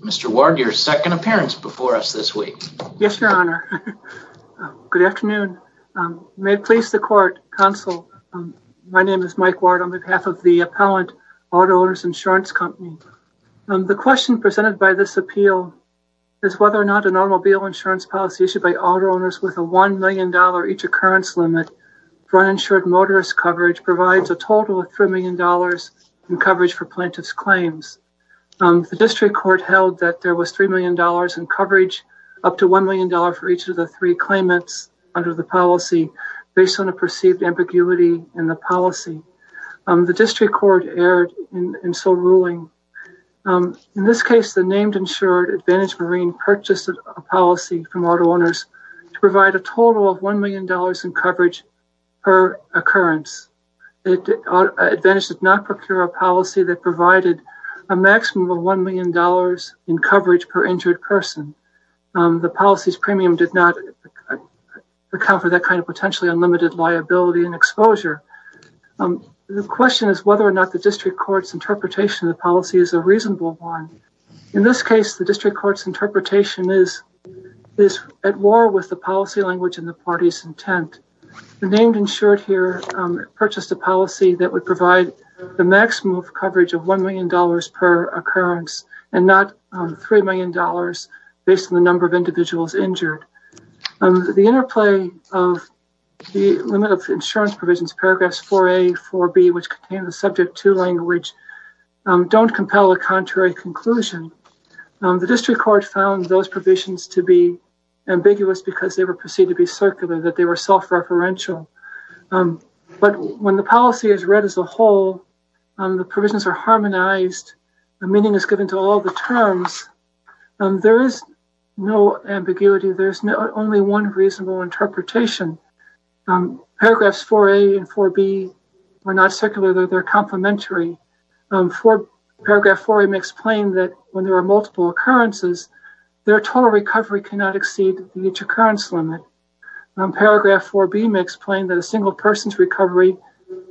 Mr. Ward your second appearance before us this week. Yes, your honor. Good afternoon. May it please the court, counsel, my name is Mike Ward on behalf of the appellant, Auto-Owners Insurance Company. The question presented by this appeal is whether or not an automobile insurance policy issued by auto owners with a $1 million each occurrence limit for uninsured motorist coverage provides a total of $3 million in coverage for plaintiff's claims. The district court held that there was $3 million in coverage, up to $1 million for each of the three claimants under the policy based on a perceived ambiguity in the policy. The district court erred in so ruling. In this case, the named insured Advantage Marine purchased a policy from auto owners to provide a total of $1 million in coverage per occurrence. Advantage did not procure a policy that provided a maximum of $1 million in coverage per injured person. The policy's premium did not account for that kind of potentially unlimited liability and exposure. The question is whether or not the district court's interpretation of the In this case, the district court's interpretation is at war with the policy language and the party's intent. The named insured here purchased a policy that would provide the maximum of coverage of $1 million per occurrence and not $3 million based on the number of individuals injured. The interplay of the limit of insurance provisions, paragraphs 4A, 4B, which contain the subject to language, don't compel a contrary conclusion. The district court found those provisions to be ambiguous because they were perceived to be circular, that they were self-referential. But when the policy is read as a whole, the provisions are harmonized, the meaning is given to all the terms, there is no ambiguity. There's only one reasonable interpretation. Paragraphs 4A and 4B are not circular, they're complementary. Paragraph 4A makes plain that when there are multiple occurrences, their total recovery cannot exceed each occurrence limit. Paragraph 4B makes plain that a single person's recovery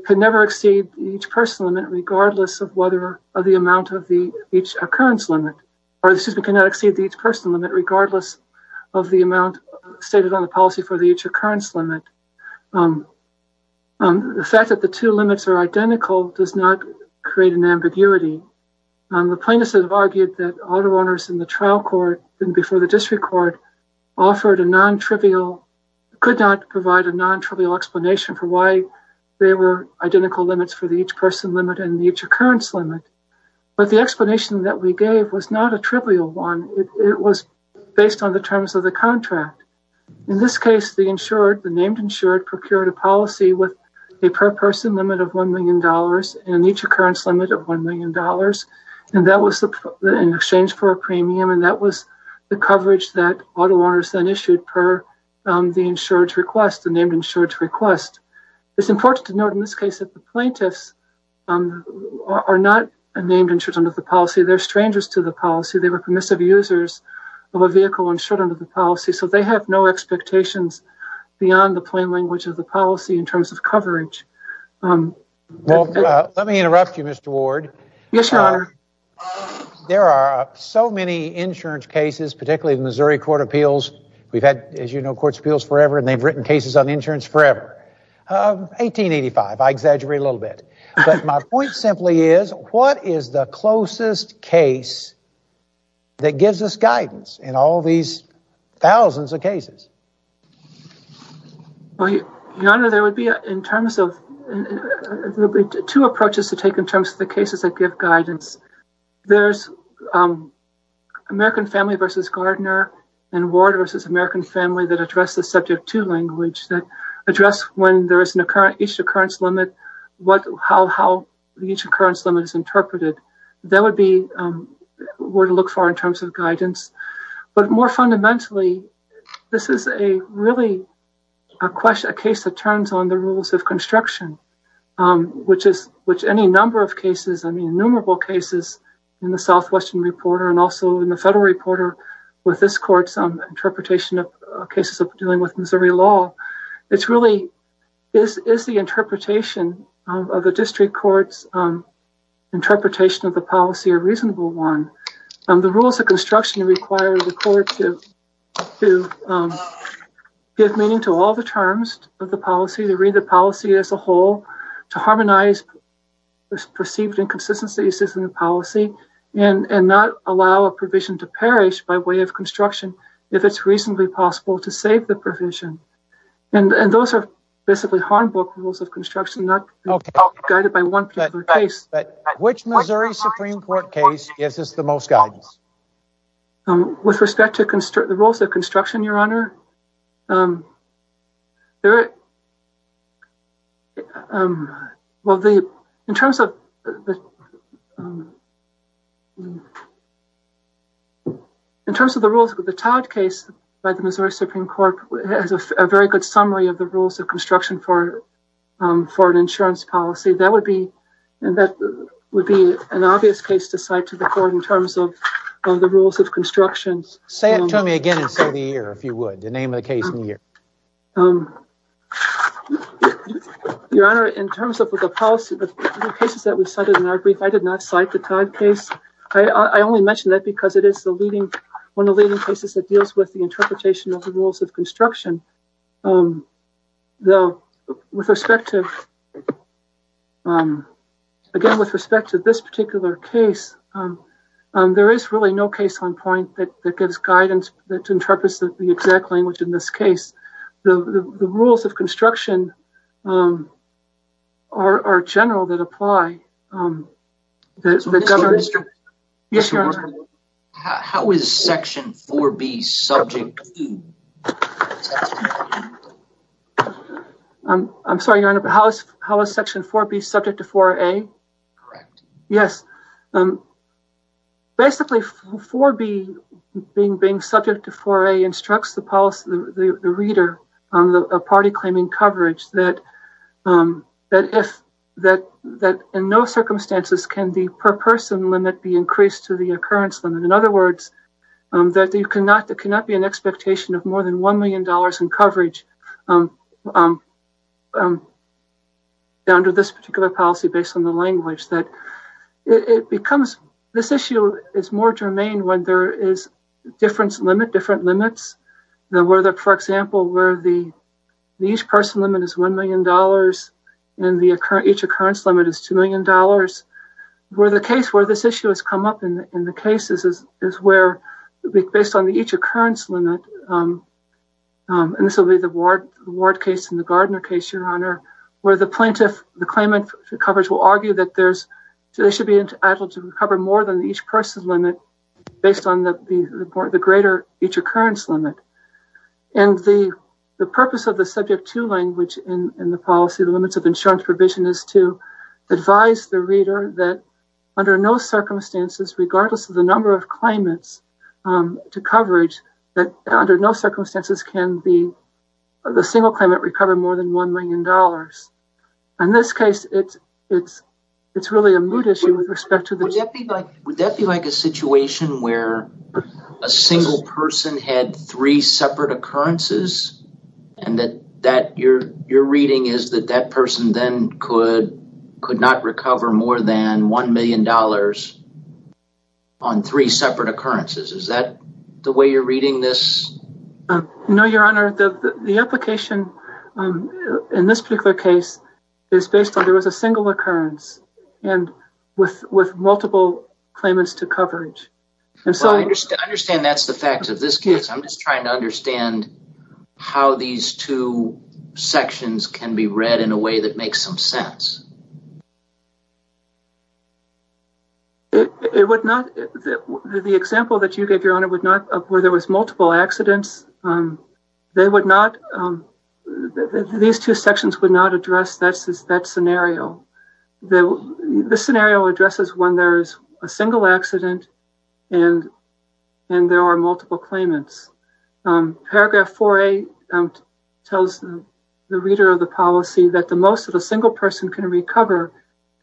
can never exceed each person limit regardless of whether the amount of the each occurrence limit, or excuse me, cannot exceed the each person limit regardless of the amount stated on the policy for the each occurrence limit. The fact that the two limits are identical does not create an ambiguity. The plaintiffs have argued that auto owners in the trial court and before the district court offered a non-trivial, could not provide a non-trivial explanation for why they were identical limits for the each person limit and the each occurrence limit. But the explanation that we gave was not a trivial one. It was based on the terms of the contract. In this case, the insured, the named insured procured a policy with a per person limit of $1,000,000 and each occurrence limit of $1,000,000. And that was in exchange for a premium and that was the coverage that auto owners then issued per the insured's request, the named insured's request. It's important to note in this case that the plaintiffs are not named insured under the policy. They're strangers to the policy. They were permissive users of a vehicle insured under the policy. So they have no expectations beyond the plain language of the policy in terms of coverage. Well, let me interrupt you, Mr. Ward. There are so many insurance cases, particularly the Missouri Court of Appeals. We've had, as you know, court appeals forever and they've written cases on insurance forever. 1885, I exaggerate a little bit. But my point simply is, what is the closest case that gives us guidance in all these thousands of cases? Well, Your Honor, there would be two approaches to take in terms of the cases that give guidance. There's American Family v. Gardner and Ward v. American Family that address the Subject 2 language that address when there is an insurance limit, how the insurance limit is interpreted. That would be where to look for in terms of guidance. But more fundamentally, this is really a case that turns on the rules of construction, which any number of cases, I mean innumerable cases in the Southwestern Reporter and also in the Federal Reporter with this court's interpretation of cases of dealing with a reasonable one. The rules of construction require the court to give meaning to all the terms of the policy, to read the policy as a whole, to harmonize perceived inconsistencies in the policy, and not allow a provision to perish by way of construction if it's reasonably possible to save the provision. And those are basically the rules of construction, not guided by one particular case. Which Missouri Supreme Court case gives us the most guidance? With respect to the rules of construction, Your Honor, in terms of the rules of the Todd case by the Missouri Supreme Court, it has a very good summary of the rules of construction for an insurance policy. That would be an obvious case to cite to the court in terms of the rules of construction. Say it to me again and say the year, if you would, the name of the case and year. Your Honor, in terms of the policy, the cases that we cited in our brief, I did not cite the Todd case. I only mention that because it is one of the leading cases that deals with the interpretation of the rules of construction. Again, with respect to this particular case, there is really no case on point that gives guidance that interprets the exact language in this case. The rules of construction are general that apply. How is section 4B subject to 4A? Yes. Basically, 4B, being subject to 4A, instructs the policy, the reader, on the party claiming coverage that in no circumstances can the per person limit be increased to the occurrence limit. In other words, there cannot be an expectation of more than $1 million in coverage under this particular policy based on the language. This issue is more germane when there is different limits. For example, the each person limit is $1 million and the each occurrence limit is $2 million. Where this issue has come up in the cases is where, based on the each occurrence limit, and this will be the Ward case and the Gardner case, Your Honor, where the plaintiff, the claimant coverage will argue that they should be entitled to cover more than the each person limit based on the greater each occurrence limit. The purpose of the subject to language in the policy, the limits of insurance provision, is to advise the reader that under no circumstances, regardless of the number of claimants to coverage, that under no circumstances can the single claimant recover more than $1 million. In this case, it's really a moot issue with respect Would that be like a situation where a single person had three separate occurrences and that you're reading is that that person then could not recover more than $1 million on three separate occurrences. Is that the way you're reading this? No, Your Honor. The application in this particular case is based on there was a single occurrence and with multiple claimants to coverage. I understand that's the fact of this case. I'm just trying to understand how these two sections can be read in a way that makes some sense. The example that you gave, Your Honor, where there was multiple accidents, they would not, these two sections would not address that scenario. This scenario addresses when there is a single accident and there are multiple claimants. Paragraph 4A tells the reader of the policy that the most that a single person can recover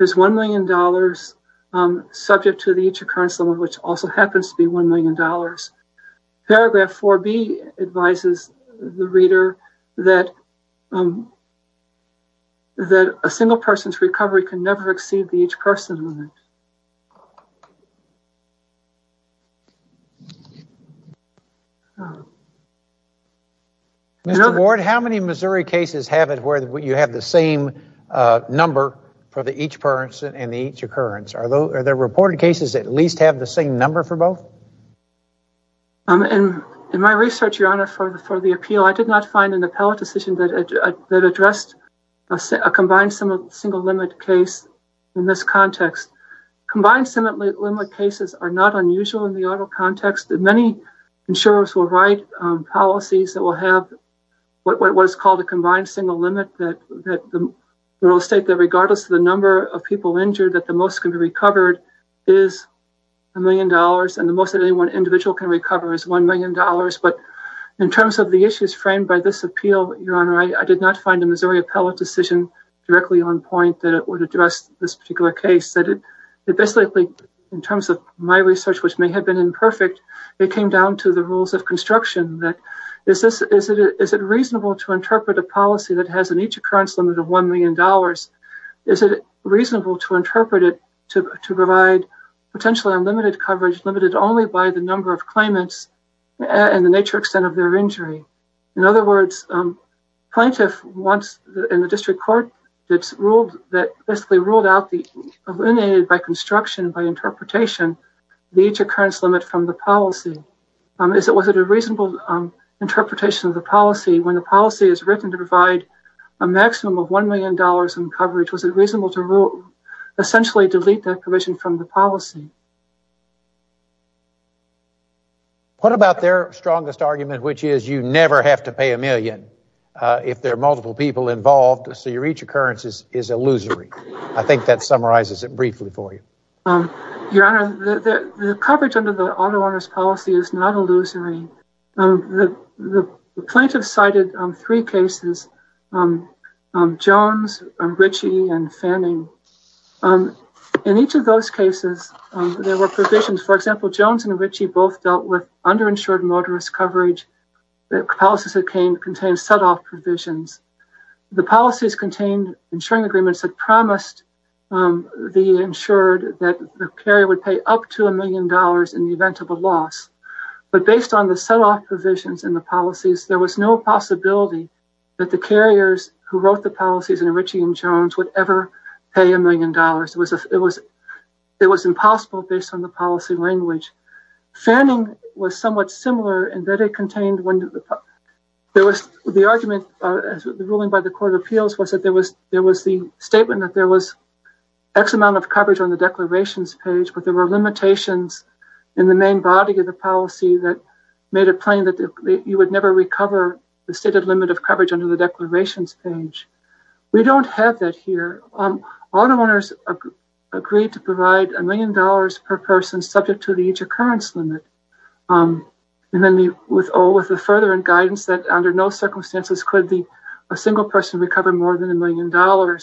is $1 million, subject to the each occurrence limit, which also happens to be $1 million. Paragraph 4B advises the reader that a single person's recovery can never exceed the each person limit. Mr. Ward, how many Missouri cases have it where you have the same number for the each person and the each occurrence? Are there reported cases that at least have the same number for both? In my research, Your Honor, for the appeal, I did not find an appellate decision that addressed a combined single limit case in this context. Combined single limit cases are not unusual in the auto context. Many insurers will write policies that will have what is called a combined single limit that will state that regardless of the number of people injured that the most can be recovered is $1 million and the most an individual can recover is $1 million. In terms of the issues framed by this appeal, Your Honor, I did not find a Missouri appellate decision directly on point that would address this particular case. Basically, in terms of my research, which may have been imperfect, it came down to the rules of construction. Is it reasonable to interpret a policy that has an each occurrence limit of $1 million? Is it reasonable to interpret it to provide potentially unlimited coverage limited only by the number of claimants and the nature extent of their injury? In other words, plaintiff wants, in the district court, that basically ruled out, eliminated by construction, by interpretation, the each occurrence limit from the policy. Was it a reasonable interpretation of the policy when the policy is written to provide a maximum of $1 million in coverage? Was it reasonable to essentially delete that provision from the policy? What about their strongest argument, which is you never have to pay a million if there are multiple people involved, so your each occurrence is illusory? I think that summarizes it briefly for you. Your Honor, the coverage under the auto owner's policy is not illusory. The plaintiff cited three cases, Jones, Ritchie, and Fanning. In each of those cases, there were provisions, for example, Jones and Ritchie both dealt with underinsured motorist coverage. The policies that came contained setoff provisions. The policies contained insuring agreements that promised the insured that the carrier would pay up to $1 million in event of a loss. But based on the setoff provisions in the policies, there was no possibility that the carriers who wrote the policies in Ritchie and Jones would ever pay $1 million. It was impossible based on the policy language. Fanning was somewhat similar in that it contained when there was the argument, the ruling by the court of appeals was that there was the statement that X amount of coverage on the declarations page, but there were limitations in the main body of the policy that made it plain that you would never recover the stated limit of coverage under the declarations page. We don't have that here. Auto owners agreed to provide $1 million per person subject to the each occurrence limit. And then with the further guidance that under no circumstances could a single person recover more than $1 million.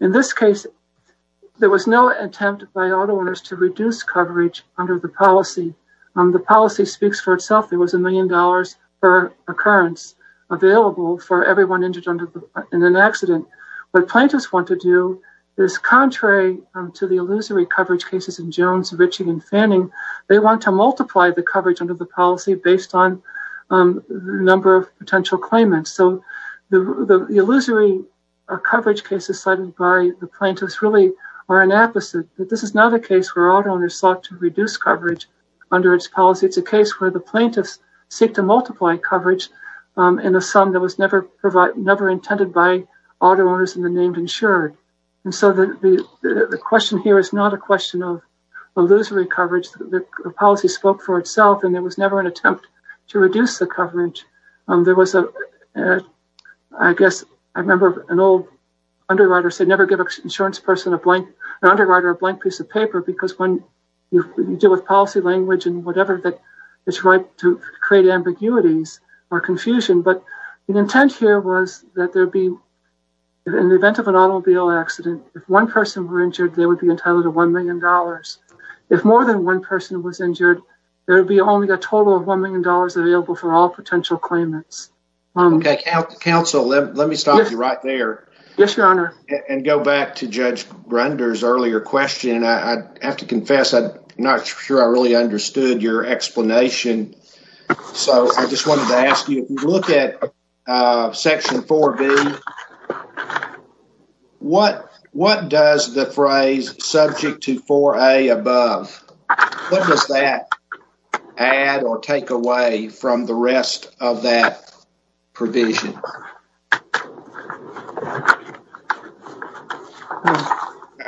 In this case, there was no attempt by auto owners to reduce coverage under the policy. The policy speaks for itself. There was $1 million per occurrence available for everyone injured in an accident. What plaintiffs want to do is contrary to the illusory coverage cases in Jones, Ritchie and Fanning, they want to multiply the coverage under the policy based on the number of potential claimants. So the illusory coverage cases cited by the plaintiffs really are an apposite. This is not a case where auto owners sought to reduce coverage under its policy. It's a case where the plaintiffs seek to multiply coverage in a sum that was never intended by auto owners in the name insured. So the question here is not a question of illusory coverage. The policy spoke for itself and there was never an attempt to reduce the coverage. There was a, I guess, I remember an old underwriter said never give an insurance person a blank, an underwriter a blank piece of paper because when you deal with policy language and whatever that is right to create ambiguities or confusion. But the intent here was that there would be, in the event of an automobile accident, if one person were injured, they would be entitled to $1 million. If more than one person was injured, there would be only a total of $1 million available for all potential claimants. Okay, counsel, let me stop you right there. Yes, your honor. And go back to Judge Grunder's earlier question. I have to confess, I'm not sure I really understood your explanation. So I just wanted to ask you, if you look at section 4B, what does the phrase subject to 4A above, what does that add or take away from the rest of that provision?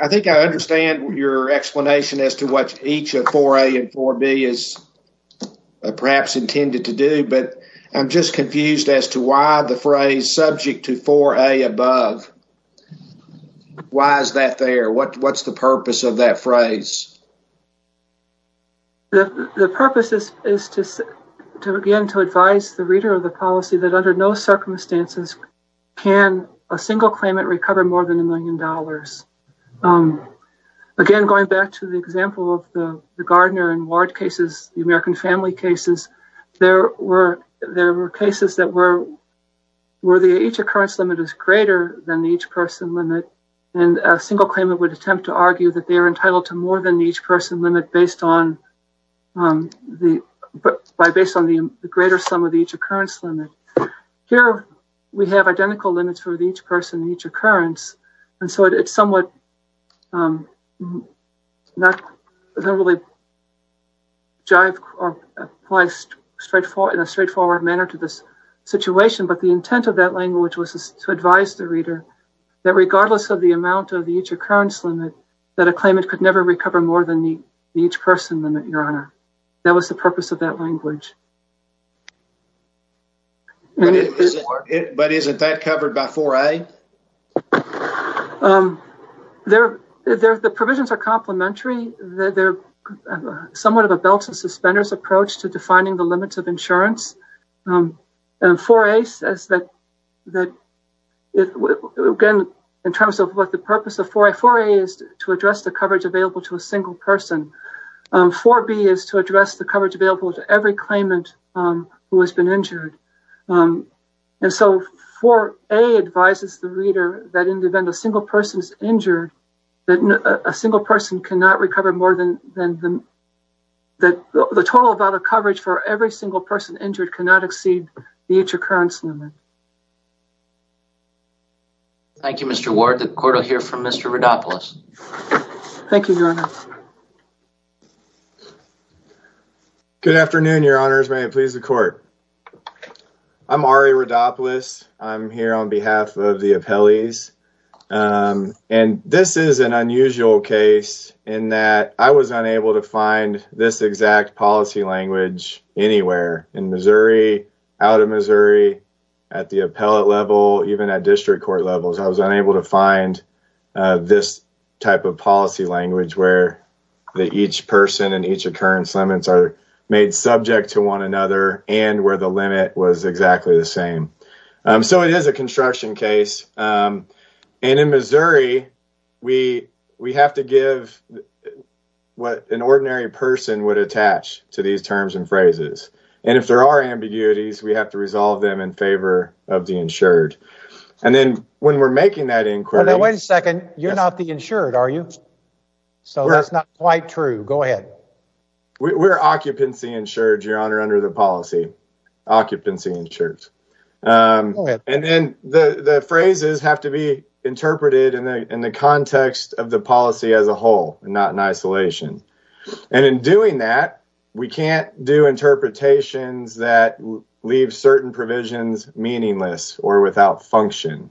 I think I understand your explanation as to what each of 4A and 4B is perhaps intended to do, but I'm just confused as to why the phrase subject to 4A above. Why is that there? What's the purpose of that phrase? The purpose is to, again, to advise the reader of the policy that under no circumstances can a single claimant recover more than a million dollars. Again, going back to the example of the there were cases that were where the each occurrence limit is greater than each person limit. And a single claimant would attempt to argue that they are entitled to more than each person limit based on the greater sum of each occurrence limit. Here we have identical limits for the each person, each occurrence. And so it's somewhat not really jive or applies in a straightforward manner to this situation. But the intent of that language was to advise the reader that regardless of the amount of the each occurrence limit, that a claimant could never recover more than the each person limit, Your Honor. That was the purpose of that language. But isn't that covered by 4A? The provisions are complementary. They're somewhat of a belt and suspenders approach to defining the limits of insurance. And 4A says that, again, in terms of what the purpose of 4A, is to address the coverage available to a single person. 4B is to address the coverage available to every claimant who has been injured. And so 4A advises the reader that in the event a single person is injured, that a single person cannot recover more than the total amount of coverage for every single person injured cannot exceed the each occurrence limit. Thank you, Mr. Ward. The court will hear from Mr. Rodopoulos. Thank you, Your Honor. Good afternoon, Your Honors. May it please the court. I'm Ari Rodopoulos. I'm here on behalf of the appellees. And this is an unusual case in that I was unable to find this exact policy language anywhere in Missouri, out of Missouri, at the appellate level, even at district court levels. I was unable to find this type of policy language where each person and each occurrence limits are made subject to one another and where the limit was exactly the same. So it is a construction case. And in Missouri, we have to give what an ordinary person would attach to these terms and phrases. And if there are ambiguities, we have to resolve them in favor of the insured. And then when we're making that inquiry— Wait a second. You're not the insured, are you? So that's not quite true. Go ahead. We're occupancy insured, Your Honor, under the policy. Occupancy insured. And then the phrases have to be interpreted in the context of the policy as a whole, not in isolation. And in doing that, we can't do interpretations that leave certain provisions meaningless or without function.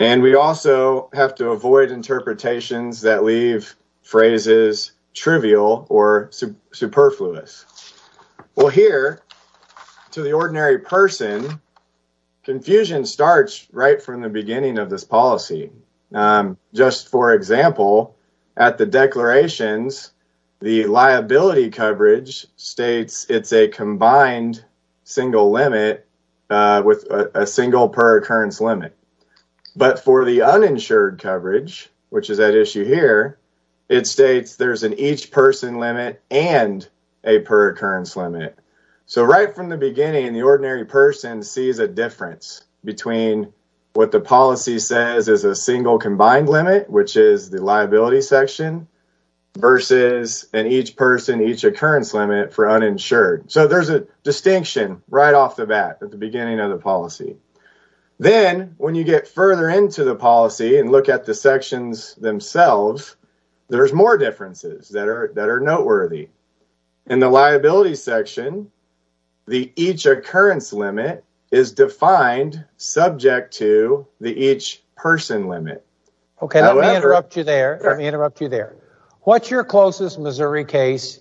And we also have to avoid interpretations that leave phrases trivial or superfluous. Well, here, to the ordinary person, confusion starts right from the beginning of this policy. Just for example, at the declarations, the liability coverage states it's a combined single limit with a single per occurrence limit. But for the uninsured coverage, which is that issue here, it states there's an each person limit and a per occurrence limit. So right from the beginning, the ordinary person sees a difference between what the policy says is a single combined limit, which is the liability section, versus an each person, each occurrence limit for uninsured. So there's a distinction right off the bat at the beginning of the policy. Then when you get further into the policy and look at the in the liability section, the each occurrence limit is defined subject to the each person limit. Okay, let me interrupt you there. Let me interrupt you there. What's your closest Missouri case?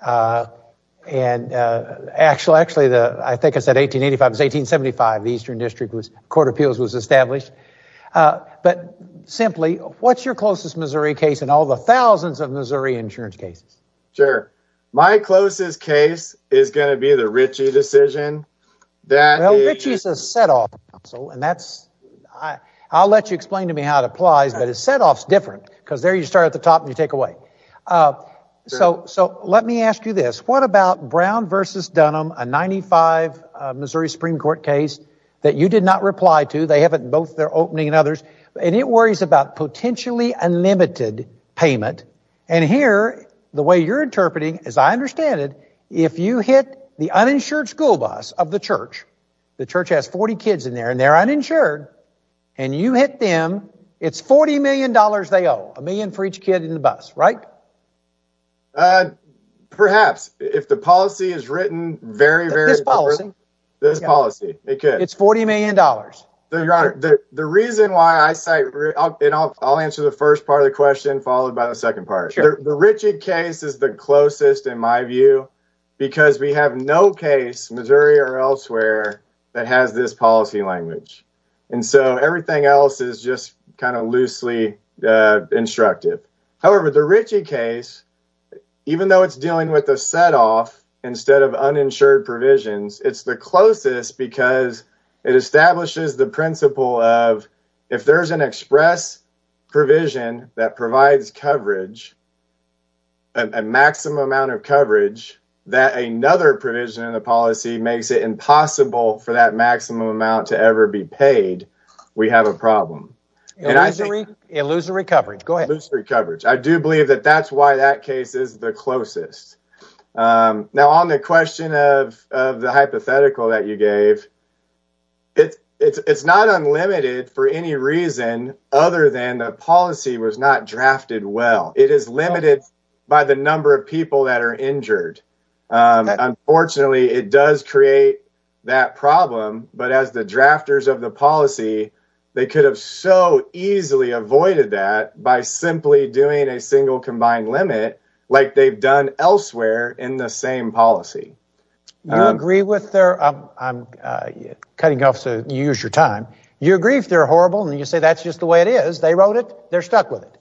And actually, I think I said 1885, it was 1875, the Eastern District Court of Appeals was established. But simply, what's your closest Missouri case in all the thousands of Missouri insurance cases? Sure. My closest case is going to be the Ritchie decision. That Ritchie is a set off. So and that's, I'll let you explain to me how it applies. But it's set offs different, because there you start at the top and you take away. So So let me ask you this, what about Brown versus Dunham, a 95, Missouri Supreme Court case that you did not reply to, they haven't both their opening and others. And it worries about potentially unlimited payment. And here, the way you're interpreting, as I understand it, if you hit the uninsured school bus of the church, the church has 40 kids in there, and they're uninsured. And you hit them, it's $40 million, they owe a million for each kid in the bus, right? Perhaps if the policy is written very, very policy, this policy, it's $40 million. Your Honor, the reason why I say, and I'll answer the first part of the question, followed by the second part. The Ritchie case is the closest in my view, because we have no case Missouri or elsewhere that has this policy language. And so everything else is just kind of loosely instructed. However, the Ritchie case, even though it's dealing with a set off, instead of uninsured provisions, it's the closest because it establishes the principle of, if there's an express provision that provides coverage, a maximum amount of coverage, that another provision in the policy makes it impossible for that maximum amount to ever be paid, we have a problem. Illusory coverage, go ahead. Illusory coverage. I do believe that that's why that case is the closest. Now on the question of the hypothetical that you gave, it's not unlimited for any reason other than the policy was not drafted well. It is limited by the number of people that are injured. Unfortunately, it does create that problem. But as the drafters of the policy, they could have so easily avoided that by simply doing a combined limit like they've done elsewhere in the same policy. I'm cutting off so you use your time. You agree if they're horrible and you say that's just the way it is, they wrote it, they're stuck with it.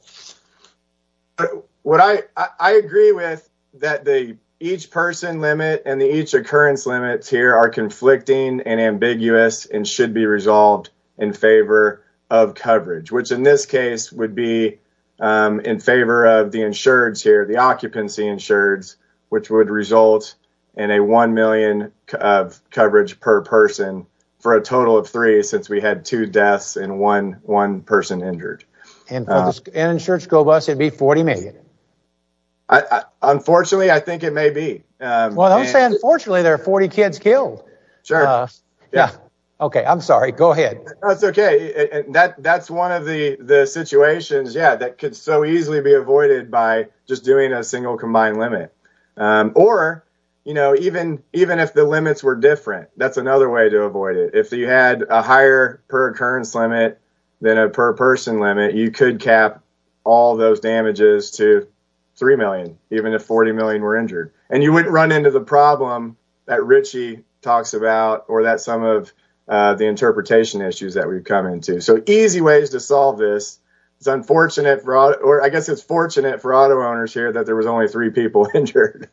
I agree with that the each person limit and the each occurrence limits here are conflicting and ambiguous and should be resolved in favor of coverage, which in this case would be in favor of the insureds here, the occupancy insureds, which would result in a one million of coverage per person for a total of three since we had two deaths and one person injured. An insured school bus, it'd be 40 million. Unfortunately, I think it may be. Unfortunately, there are 40 kids killed. I'm sorry, go ahead. That's okay. That's one of the situations that could so easily be avoided by just doing a single combined limit. Or even if the limits were different, that's another way to avoid it. If you had a higher per occurrence limit than a per person limit, you could cap all those damages to three million, even if 40 million were injured. And you wouldn't run into the problem that Richie talks about or that some of the interpretation issues that we've come into. So easy ways to solve this. It's unfortunate or I guess it's fortunate for auto owners here that there was only three people injured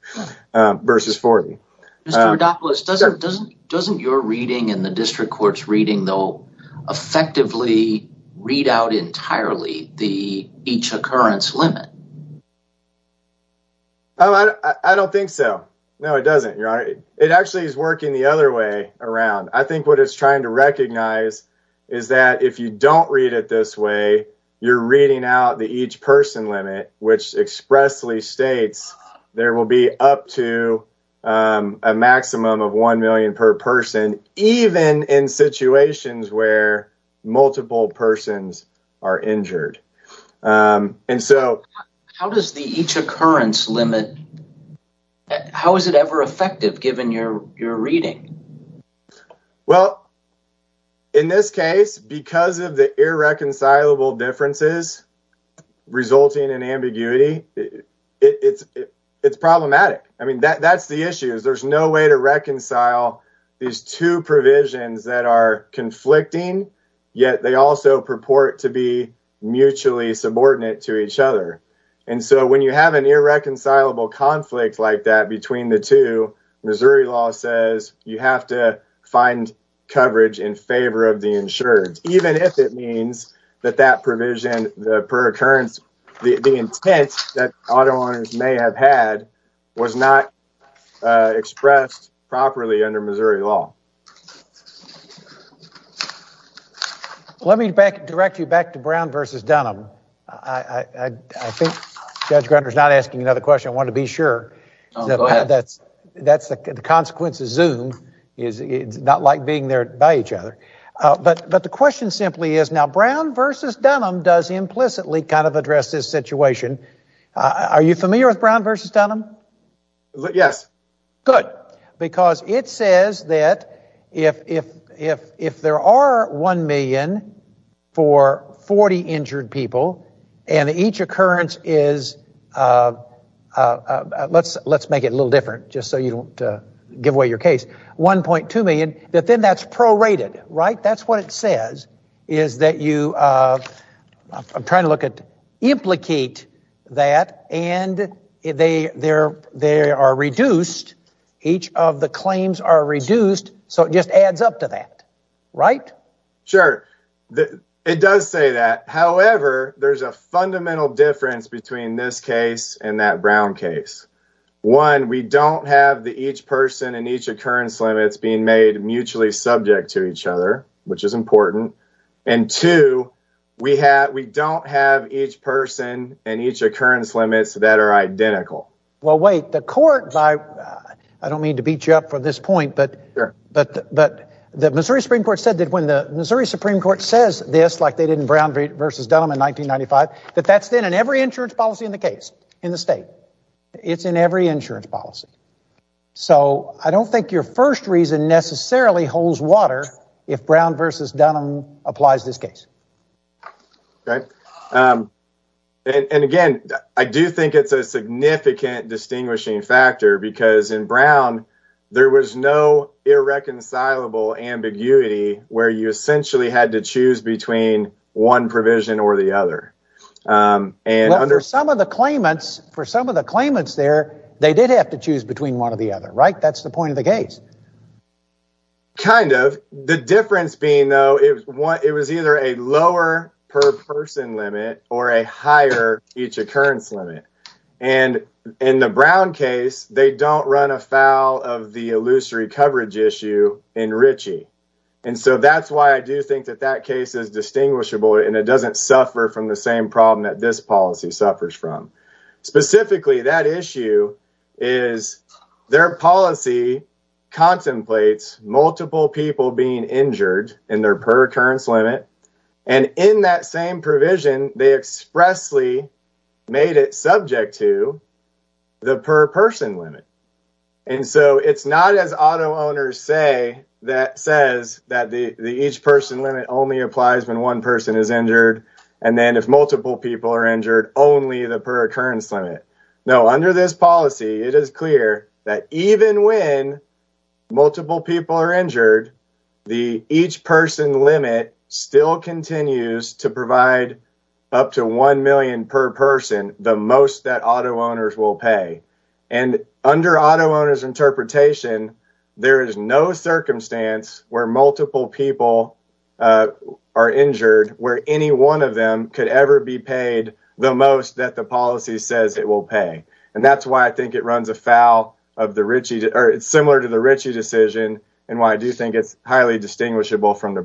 versus 40. Mr. Rodopoulos, doesn't your reading and the district court's reading though effectively read out entirely the each occurrence limit? I don't think so. No, it doesn't. It actually is working the other way around. I think what it's trying to recognize is that if you don't read it this way, you're reading out the each person limit, which expressly states there will be up to a maximum of one million per person, even in situations where multiple persons are injured. How does the each occurrence limit, how is it ever effective given your reading? Well, in this case, because of the irreconcilable differences resulting in ambiguity, it's problematic. I mean, that's the issue is there's no way to reconcile these two provisions that are conflicting, yet they also purport to be mutually subordinate to each other. And so when you have an irreconcilable conflict like that between the two, Missouri law says you have to find coverage in favor of the insured, even if it means that that provision, the per occurrence, the intent that auto owners may have had was not expressed properly under Missouri law. Let me direct you back to Brown versus Dunham. I think Judge Grunder is not asking another question. I want to be sure that's the consequence of Zoom. It's not like being there by each other. But the question simply is now Brown versus Dunham does implicitly kind of address this situation. Are you familiar with Brown versus Dunham? Yes. Good. Because it says that if there are one million for 40 injured people and each occurrence is, let's make it a giveaway your case, 1.2 million, that then that's prorated, right? That's what it says is that you I'm trying to look at implicate that and they are reduced. Each of the claims are reduced. So it just adds up to that, right? Sure. It does say that. However, there's a each person and each occurrence limits being made mutually subject to each other, which is important. And two, we have we don't have each person and each occurrence limits that are identical. Well, wait, the court by I don't mean to beat you up for this point, but the Missouri Supreme Court said that when the Missouri Supreme Court says this, like they didn't Brown versus Dunham in 1995, that that's then in every insurance policy in the case in the state. It's in every insurance policy. So I don't think your first reason necessarily holds water if Brown versus Dunham applies this case. And again, I do think it's a significant distinguishing factor because in Brown, there was no irreconcilable ambiguity where you essentially had to choose between one provision or the other. And under some of the claimants, for some of the claimants there, they did have to choose between one or the other. Right. That's the point of the case. Kind of the difference being, though, it was either a lower per person limit or a higher each occurrence limit. And in the Brown case, they don't run afoul of the illusory coverage issue in Ritchie. And so that's why I do think that that case is distinguishable and it doesn't suffer from the same problem that this policy suffers from. Specifically, that issue is their policy contemplates multiple people being injured in their per occurrence limit. And in that same provision, they expressly made it subject to the per person limit. And so it's not as auto owners say that says that the each person limit only applies when one person is injured. And then if multiple people are injured, only the per occurrence limit. No, under this policy, it is clear that even when multiple people are injured, the each person limit still continues to provide up to one million per person, the most that auto owners will pay. And under auto owners interpretation, there is no circumstance where multiple people are injured where any one of them could ever be paid the most that the policy says it will pay. And that's why I think it runs afoul of the Ritchie or it's similar to the Ritchie decision and why I do think it's highly distinguishable from the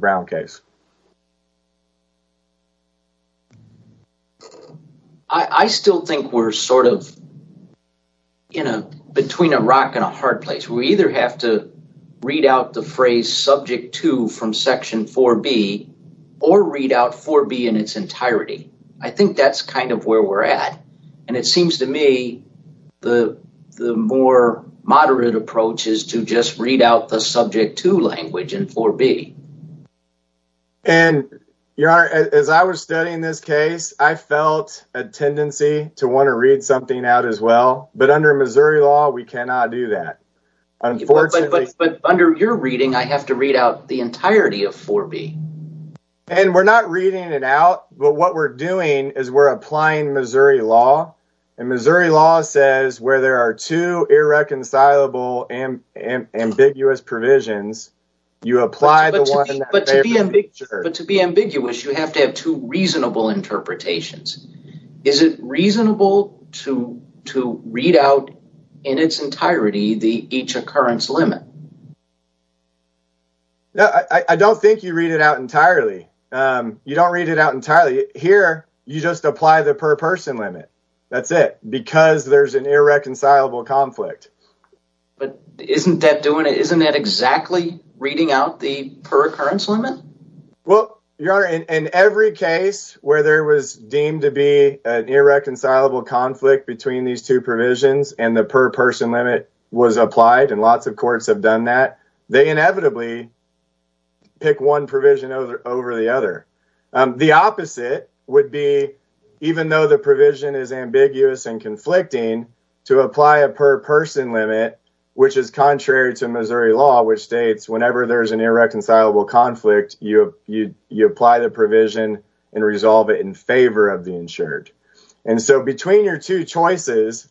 I still think we're sort of, you know, between a rock and a hard place. We either have to read out the phrase subject to from Section 4B or read out 4B in its entirety. I think that's kind of where we're at. And it seems to me the more moderate approach is to just read out the case. I felt a tendency to want to read something out as well. But under Missouri law, we cannot do that. But under your reading, I have to read out the entirety of 4B. And we're not reading it out. But what we're doing is we're applying Missouri law. And Missouri law says where there are two irreconcilable and ambiguous provisions, you apply the one. But to be ambiguous, you have to have two reasonable interpretations. Is it reasonable to read out in its entirety the each occurrence limit? No, I don't think you read it out entirely. You don't read it out entirely. Here, you just apply the per person limit. That's it. Because there's an irreconcilable conflict. But isn't that doing it? Isn't that exactly reading out the per occurrence limit? Well, your honor, in every case where there was deemed to be an irreconcilable conflict between these two provisions and the per person limit was applied, and lots of courts have done that, they inevitably pick one provision over the other. The opposite would be even though the which is contrary to Missouri law, which states whenever there's an irreconcilable conflict, you apply the provision and resolve it in favor of the insured. And so between your two choices,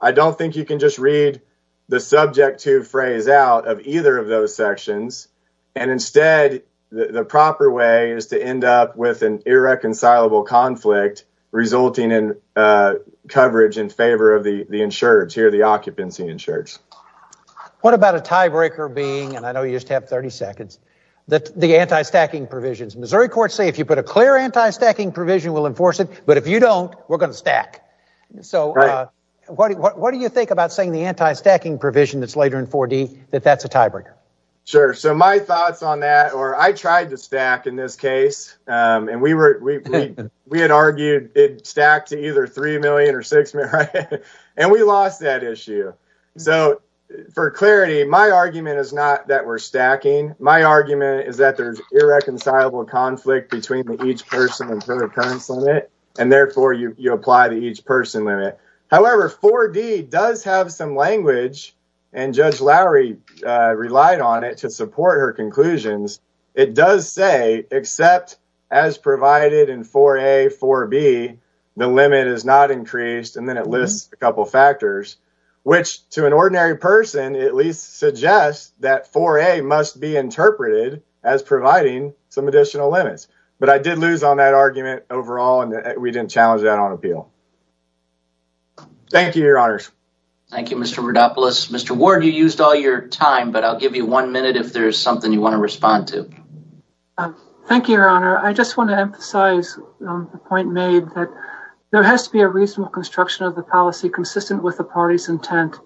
I don't think you can just read the subject to phrase out of either of those sections. And instead, the proper way is to end up with an irreconcilable conflict resulting in in favor of the insured. Here, the occupancy insured. What about a tiebreaker being, and I know you just have 30 seconds, the anti-stacking provisions? Missouri courts say if you put a clear anti-stacking provision, we'll enforce it. But if you don't, we're going to stack. So what do you think about saying the anti-stacking provision that's later in 4D, that that's a tiebreaker? Sure. So my thoughts on that, or I tried to stack in this case, and we had argued it stacked to three million or six million, and we lost that issue. So for clarity, my argument is not that we're stacking. My argument is that there's irreconcilable conflict between each person and their occurrence limit, and therefore you apply to each person limit. However, 4D does have some language, and Judge Lowry relied on it to support her conclusions. It does say, except as provided in 4A, 4B, the limit is not increased, and then it lists a couple factors, which to an ordinary person at least suggests that 4A must be interpreted as providing some additional limits. But I did lose on that argument overall, and we didn't challenge that on appeal. Thank you, Your Honors. Thank you, Mr. Rodopoulos. Mr. Ward, you used all your time, but I'll give you one minute if there's something you want to respond to. Thank you, Your Honor. I just want to emphasize the point made that there has to be a reasonable construction of the policy consistent with the party's intent.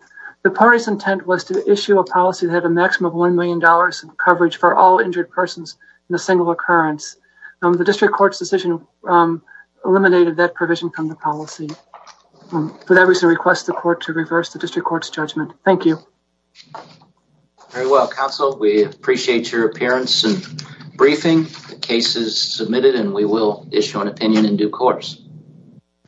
The party's intent was to issue a policy that had a maximum of $1 million in coverage for all injured persons in a single occurrence. The district court's decision eliminated that provision from the policy. For that reason, I request the court to reverse the district court's judgment. Thank you. Very well, counsel. We appreciate your appearance and briefing. The case is submitted and we will issue an opinion in due course.